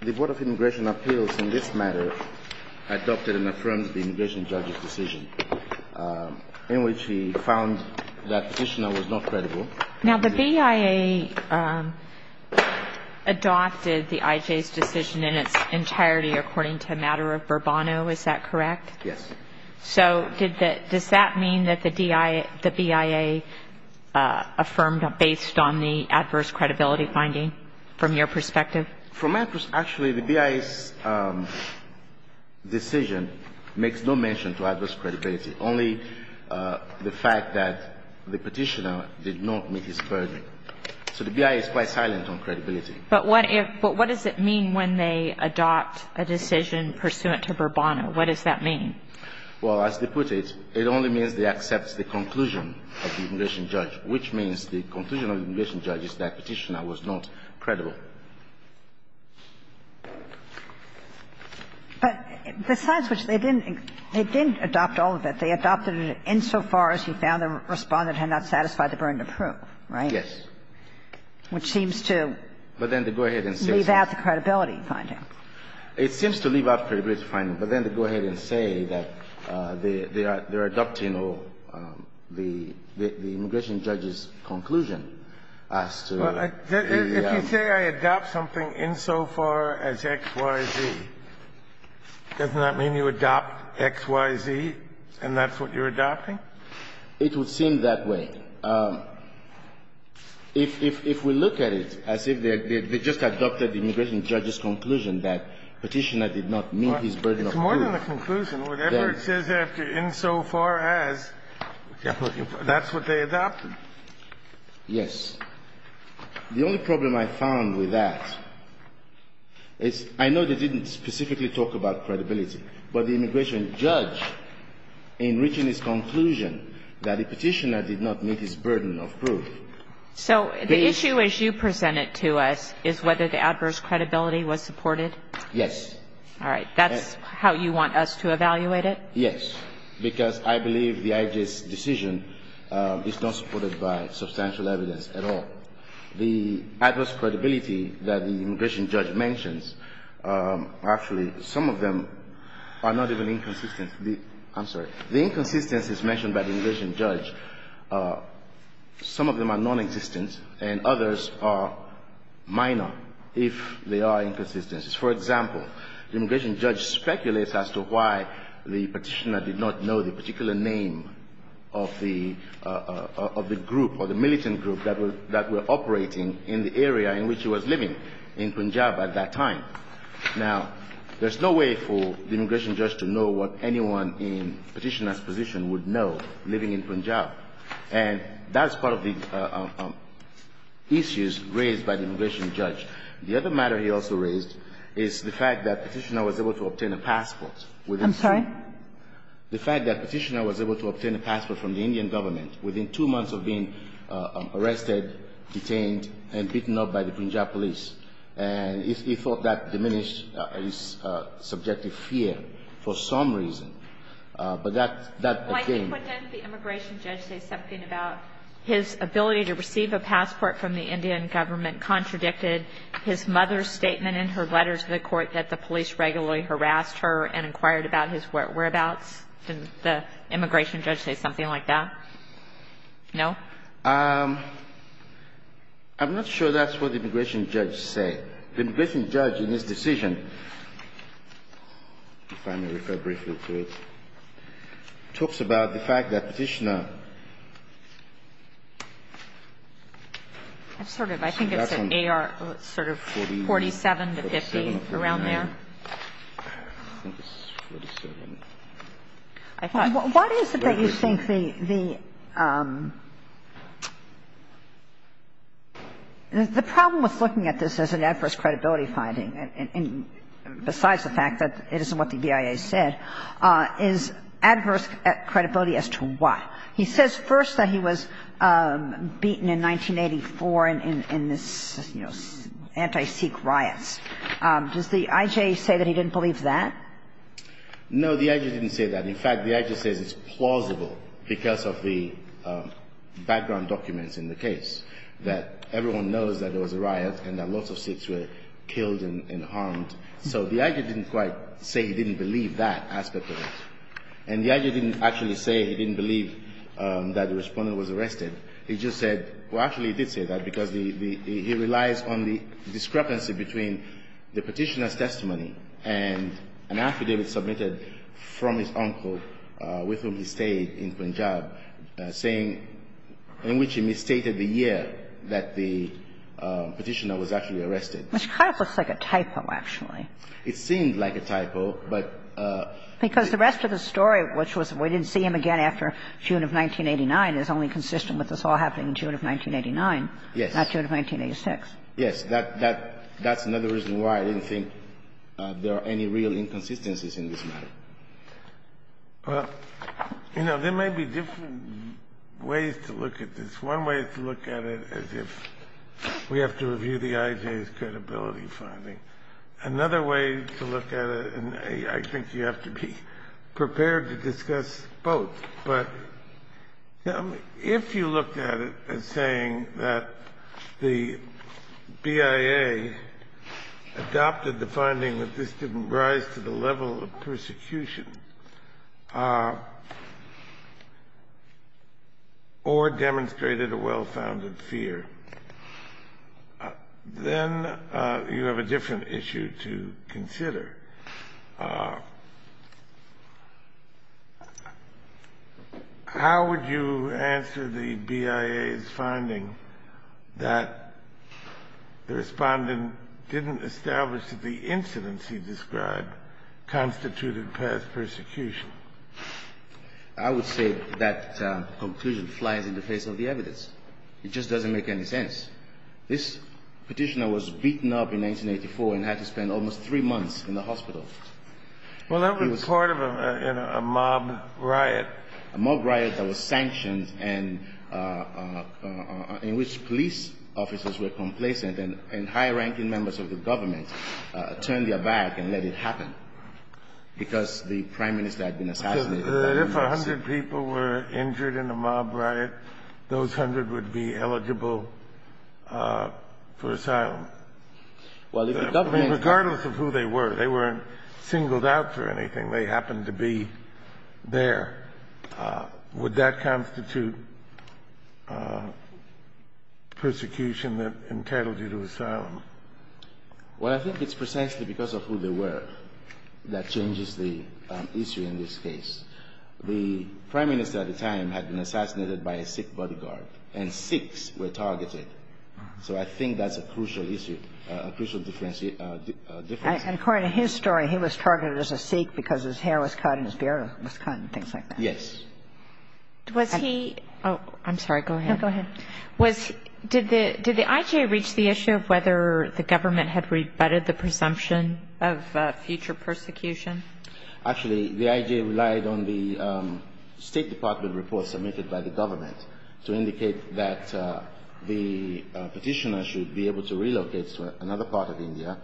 The Board of Immigration Appeals in this matter adopted and affirmed the immigration judge's decision in which he found that petitioner was not credible. Now the BIA adopted the IJ's decision in its entirety according to a matter of verbano, is that correct? Yes. So does that mean that the BIA affirmed based on the adverse credibility finding from your perspective? From my perspective, actually the BIA's decision makes no mention to adverse credibility, only the fact that the petitioner did not meet his burden. So the BIA is quite silent on credibility. But what does it mean when they adopt a decision pursuant to verbano? What does that mean? Well, as they put it, it only means they accept the conclusion of the immigration judge, which means the conclusion of the immigration judge is that petitioner was not credible. But besides which, they didn't adopt all of it. They adopted it insofar as he found the Respondent had not satisfied the burden of proof, right? Yes. Which seems to leave out the credibility finding. It seems to leave out the credibility finding, but then they go ahead and say that they are adopting the immigration judge's conclusion as to the other. If you say I adopt something insofar as X, Y, Z, doesn't that mean you adopt X, Y, Z, and that's what you're adopting? It would seem that way. And if we look at it as if they just adopted the immigration judge's conclusion that petitioner did not meet his burden of proof. It's more than a conclusion. Whatever it says there, insofar as that's what they adopted. Yes. The only problem I found with that is I know they didn't specifically talk about credibility, but the immigration judge, in reaching his conclusion that the petitioner did not meet his burden of proof. So the issue as you present it to us is whether the adverse credibility was supported? Yes. All right. That's how you want us to evaluate it? Yes, because I believe the IG's decision is not supported by substantial evidence at all. The adverse credibility that the immigration judge mentions, actually, some of them are not even inconsistent. I'm sorry. The inconsistencies mentioned by the immigration judge, some of them are nonexistent and others are minor if they are inconsistencies. For example, the immigration judge speculates as to why the petitioner did not know the particular name of the group or the militant group that were operating in the area in which he was living in Punjab at that time. Now, there's no way for the immigration judge to know what anyone in the petitioner's position would know living in Punjab. And that's part of the issues raised by the immigration judge. The other matter he also raised is the fact that the petitioner was able to obtain a passport. I'm sorry? The fact that the petitioner was able to obtain a passport from the Indian government within two months of being arrested, detained, and beaten up by the Punjab police. And he thought that diminished his subjective fear for some reason. But that's a game. Well, I think wouldn't the immigration judge say something about his ability to receive a passport from the Indian government contradicted his mother's statement in her letters to the court that the police regularly harassed her and inquired about his whereabouts? Didn't the immigration judge say something like that? No? I'm not sure that's what the immigration judge said. The immigration judge, in his decision, if I may refer briefly to it, talks about the fact that petitioner. I think it's an AR sort of 47 to 50 around there. What is it that you think the – the problem with looking at this as an adverse credibility finding, besides the fact that it isn't what the BIA said, is adverse credibility as to what? He says first that he was beaten in 1984 in this, you know, anti-Sikh riots. Does the IJ say that he didn't believe that? No, the IJ didn't say that. In fact, the IJ says it's plausible because of the background documents in the case, that everyone knows that there was a riot and that lots of Sikhs were killed and harmed. So the IJ didn't quite say he didn't believe that aspect of it. And the IJ didn't actually say he didn't believe that the Respondent was arrested. He just said – well, actually, he did say that because he relies on the discrepancy between the petitioner's testimony and an affidavit submitted from his uncle, with whom he stayed in Punjab, saying – in which he misstated the year that the petitioner was actually arrested. Which kind of looks like a typo, actually. It seemed like a typo, but – Because the rest of the story, which was we didn't see him again after June of 1989, is only consistent with this all happening in June of 1989, not June of 1986. Yes. That's another reason why I didn't think there are any real inconsistencies in this matter. Well, you know, there may be different ways to look at this. One way is to look at it as if we have to review the IJ's credibility finding. Another way to look at it, and I think you have to be prepared to discuss both, but if you looked at it as saying that the BIA adopted the finding that this didn't rise to the level of persecution or demonstrated a well-founded fear, then you have a different issue to consider. How would you answer the BIA's finding that the respondent didn't establish that the incidents he described constituted past persecution? I would say that conclusion flies in the face of the evidence. It just doesn't make any sense. This petitioner was beaten up in 1984 and had to spend almost three months in the hospital. Well, that was part of a mob riot. A mob riot that was sanctioned and in which police officers were complacent and high-ranking members of the government turned their back and let it happen because the prime minister had been assassinated. So if a hundred people were injured in a mob riot, those hundred would be eligible for asylum. Well, if the government... Regardless of who they were. They weren't singled out for anything. They happened to be there. Would that constitute persecution that entitled you to asylum? Well, I think it's precisely because of who they were that changes the issue in this case. The prime minister at the time had been assassinated by a Sikh bodyguard, and Sikhs were targeted. So I think that's a crucial issue, a crucial difference. And according to his story, he was targeted as a Sikh because his hair was cut and his beard was cut and things like that. Yes. Was he... Oh, I'm sorry. Go ahead. No, go ahead. Did the IJ reach the issue of whether the government had rebutted the presumption of future persecution? Actually, the IJ relied on the State Department report submitted by the government to indicate that the Petitioner should be able to relocate to another part of India.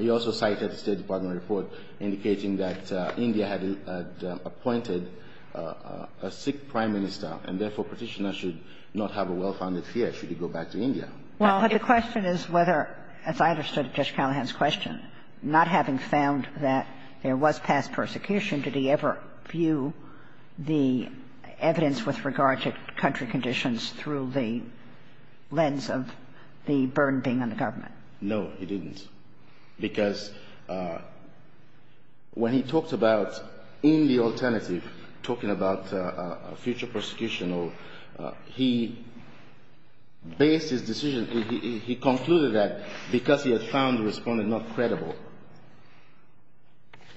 He also cited the State Department report indicating that India had appointed a Sikh prime minister, and therefore Petitioner should not have a well-founded fear should he go back to India. Well, the question is whether, as I understood Judge Callahan's question, not having found that there was past persecution, did he ever view the evidence with regard to country conditions through the lens of the burden being on the government? No, he didn't. Because when he talked about, in the alternative, talking about future persecution, he based his decision, he concluded that because he had found the Respondent not credible,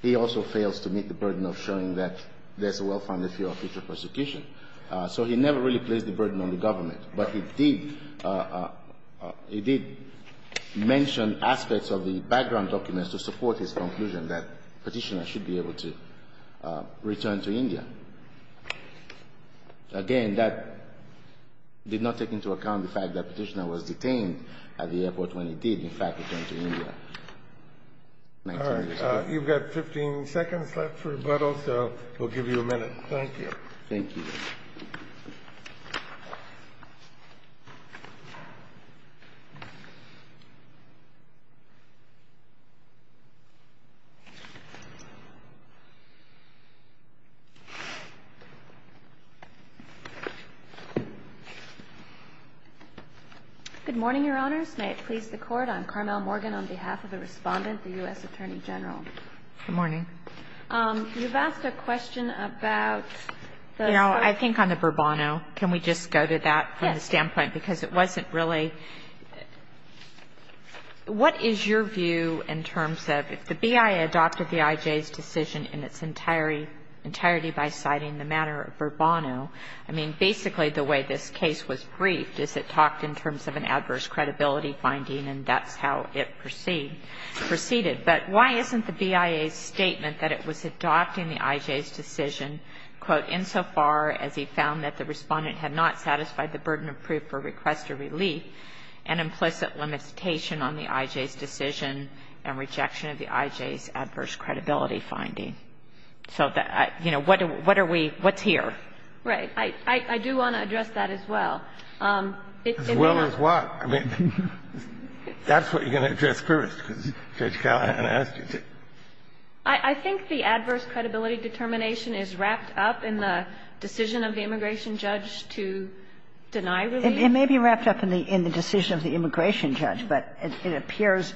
he also fails to meet the burden of showing that there's a well-founded fear of future persecution. So he never really placed the burden on the government. But he did mention aspects of the background documents to support his conclusion that Petitioner should be able to return to India. Again, that did not take into account the fact that Petitioner was detained at the airport when he did, in fact, return to India. All right. You've got 15 seconds left for rebuttal, so we'll give you a minute. Thank you. Thank you. Good morning, Your Honors. May it please the Court. I'm Carmel Morgan on behalf of the Respondent, the U.S. Attorney General. Good morning. You've asked a question about the sort of ---- You know, I think on the Bourbono, can we just go to that from the standpoint? Yes. Because it wasn't really ---- what is your view in terms of if the BIA adopted the IJ's decision in its entirety by citing the matter of Bourbono, I mean, basically the way this case was briefed is it talked in terms of an adverse credibility finding, and that's how it proceeded. But why isn't the BIA's statement that it was adopting the IJ's decision, quote, insofar as he found that the Respondent had not satisfied the burden of proof or request or relief, an implicit limitation on the IJ's decision and rejection of the IJ's adverse credibility finding? So, you know, what are we ---- what's here? Right. I do want to address that as well. As well as what? I mean, that's what you're going to address first, because Judge Kagan asked you to. I think the adverse credibility determination is wrapped up in the decision of the immigration judge to deny relief. It may be wrapped up in the decision of the immigration judge, but it appears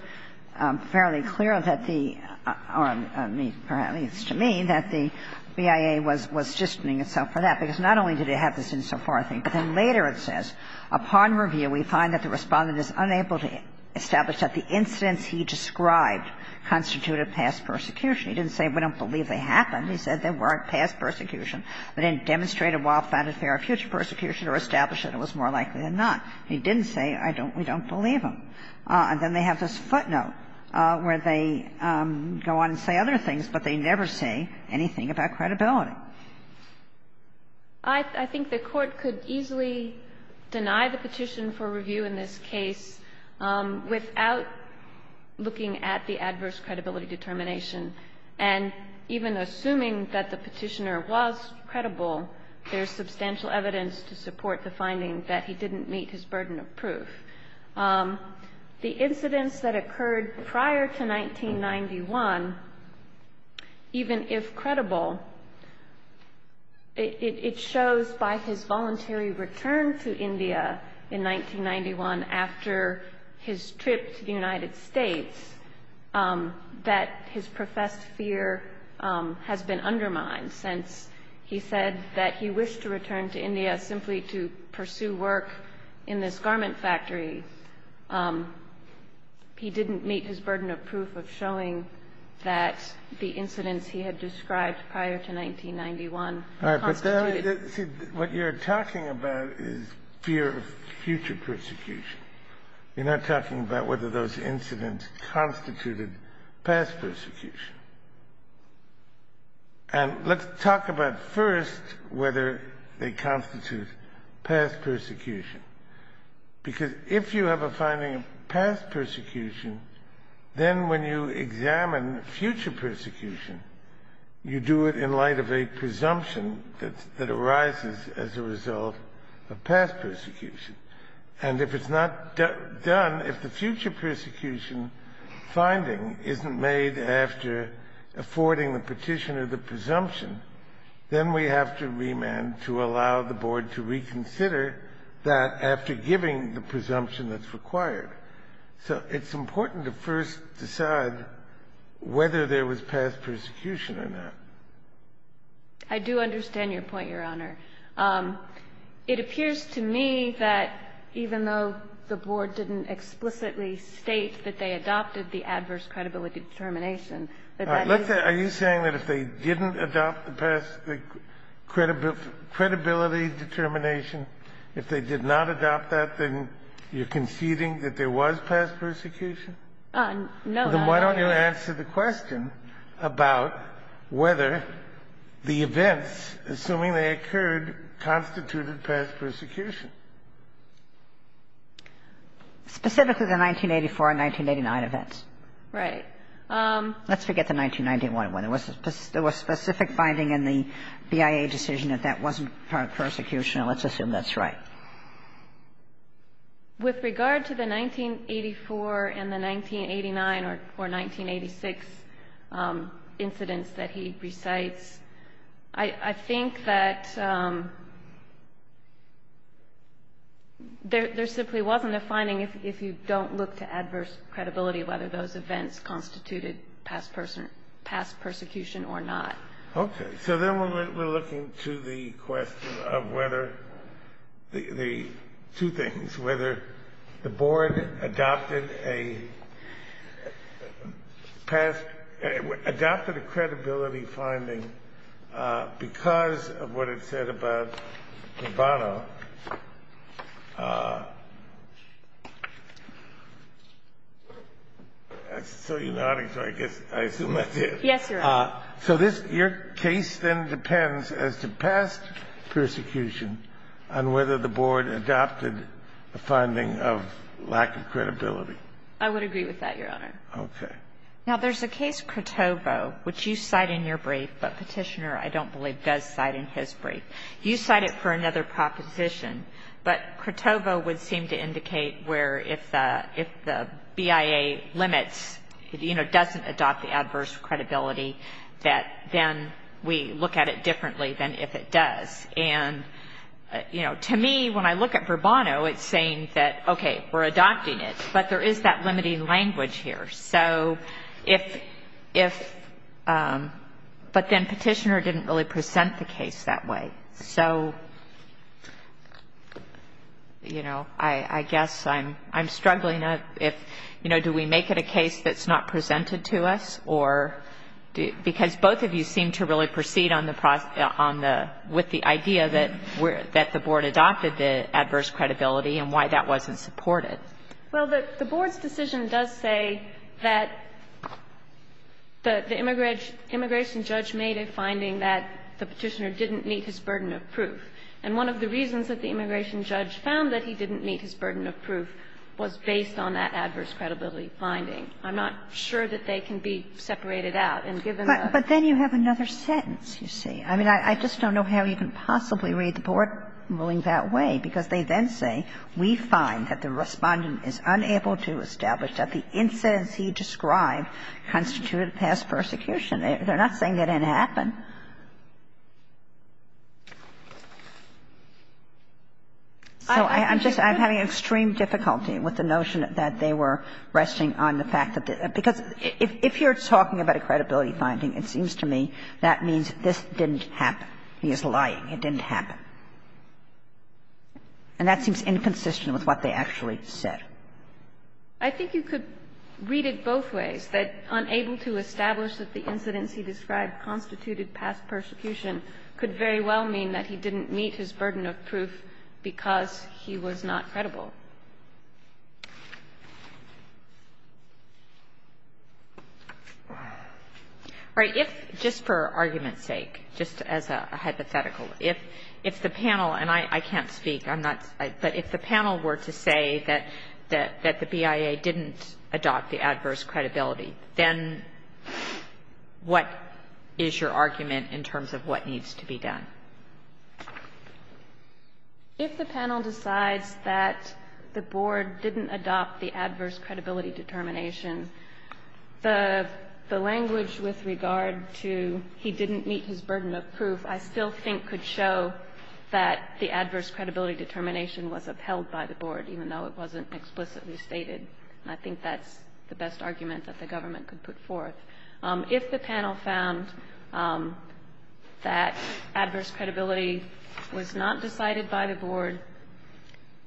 fairly clear that the ---- or perhaps it's to me that the BIA was justening itself for that, because not only did it have this insofar thing, but then later it says, Upon review, we find that the Respondent is unable to establish that the incidents he described constituted past persecution. He didn't say, we don't believe they happened. He said they weren't past persecution. They didn't demonstrate a well-founded fear of future persecution or establish that it was more likely than not. He didn't say, I don't ---- we don't believe them. And then they have this footnote where they go on and say other things, but they never say anything about credibility. I think the Court could easily deny the petition for review in this case without looking at the adverse credibility determination, and even assuming that the Petitioner was credible, there's substantial evidence to support the finding that he didn't meet his burden of proof. The incidents that occurred prior to 1991, even if credible, did not constitute it shows by his voluntary return to India in 1991 after his trip to the United States that his professed fear has been undermined since he said that he wished to return to India simply to pursue work in this garment factory. He didn't meet his burden of proof of showing that the incidents he had described prior to 1991 constitute it. All right, but see, what you're talking about is fear of future persecution. You're not talking about whether those incidents constituted past persecution. And let's talk about first whether they constitute past persecution. Because if you have a finding of past persecution, then when you examine future persecution, you do it in light of a presumption that arises as a result of past persecution. And if it's not done, if the future persecution finding isn't made after affording the Petitioner the presumption, then we have to remand to allow the Board to reconsider that after giving the presumption that's required. So it's important to first decide whether there was past persecution or not. I do understand your point, Your Honor. It appears to me that even though the Board didn't explicitly state that they adopted the adverse credibility determination, that that is the case. Are you saying that if they didn't adopt the credibility determination, if they did not adopt that, then you're conceding that there was past persecution? No. Then why don't you answer the question about whether the events, assuming they occurred, constituted past persecution? Specifically the 1984 and 1989 events. Right. Let's forget the 1991 one. There was specific finding in the BIA decision that that wasn't part of persecution. Let's assume that's right. With regard to the 1984 and the 1989 or 1986 incidents that he recites, I think that there simply wasn't a finding if you don't look to adverse credibility, whether those events constituted past persecution or not. Okay. So then we're looking to the question of whether the two things, whether the Board adopted a past, adopted a credibility finding because of what it said about Bono. I saw you nodding, so I guess, I assume that's it. Yes, Your Honor. So this, your case then depends as to past persecution on whether the Board adopted a finding of lack of credibility. I would agree with that, Your Honor. Okay. Now, there's a case, Crotovo, which you cite in your brief, but Petitioner, I don't believe, does cite in his brief. You cite it for another proposition, but Crotovo would seem to indicate where if the BIA limits, you know, doesn't adopt the adverse credibility, that then we look at it differently than if it does. And, you know, to me, when I look at Bourbono, it's saying that, okay, we're adopting it, but there is that limiting language here. So if, but then Petitioner didn't really present the case that way. So, you know, I guess I'm struggling if, you know, do we make it a case that's not presented to us or do, because both of you seem to really proceed on the, with the idea that the Board adopted the adverse credibility and why that wasn't supported. Well, the Board's decision does say that the immigration judge made a finding that the Petitioner didn't meet his burden of proof, and one of the reasons that the immigration judge found that he didn't meet his burden of proof was based on that adverse credibility finding. I'm not sure that they can be separated out, and given the ---- But then you have another sentence, you see. I mean, I just don't know how you can possibly read the Board ruling that way, because they then say, we find that the Respondent is unable to establish that the incidents he described constituted past persecution. They're not saying it didn't happen. So I'm just, I'm having extreme difficulty with the notion that they were resting on the fact that, because if you're talking about a credibility finding, it seems to me that means this didn't happen. He is lying. It didn't happen. And that seems inconsistent with what they actually said. I think you could read it both ways, that unable to establish that the incidents he described constituted past persecution could very well mean that he didn't meet his burden of proof because he was not credible. All right. But if, just for argument's sake, just as a hypothetical, if the panel, and I can't speak, I'm not, but if the panel were to say that the BIA didn't adopt the adverse credibility, then what is your argument in terms of what needs to be done? If the panel decides that the Board didn't adopt the adverse credibility determination, the language with regard to he didn't meet his burden of proof I still think could show that the adverse credibility determination was upheld by the Board, even though it wasn't explicitly stated. I think that's the best argument that the government could put forth. If the panel found that adverse credibility was not decided by the Board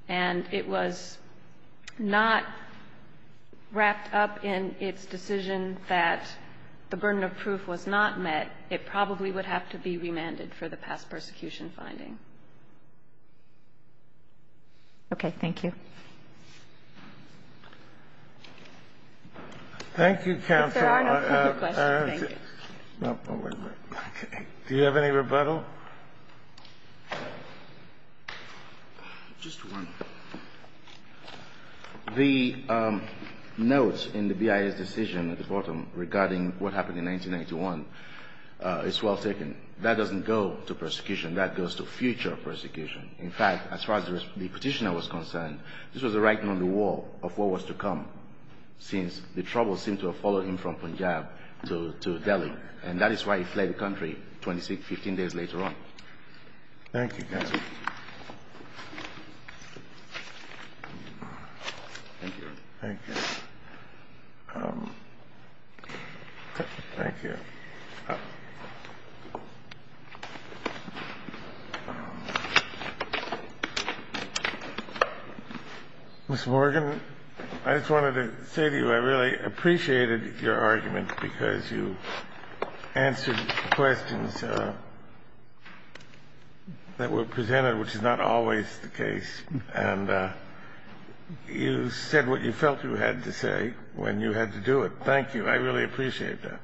and it was not wrapped up in its decision that the burden of proof was not met, it probably would have to be remanded for the past persecution finding. Okay. Thank you. Thank you, Counsel. If there are no further questions, thank you. Do you have any rebuttal? Just one. The notes in the BIA's decision at the bottom regarding what happened in 1991 is well taken. That doesn't go to persecution. That goes to future persecution. In fact, as far as the Petitioner was concerned, this was a writing on the wall of what was to come, since the troubles seemed to have followed him from Punjab to Delhi, and that is why he fled the country 26, 15 days later on. Thank you, Counsel. Thank you. Thank you. Ms. Morgan, I just wanted to say to you I really appreciated your argument because you answered questions that were presented, which is not always the case, and you said what you felt you had to say when you had to do it. Thank you. I really appreciate that.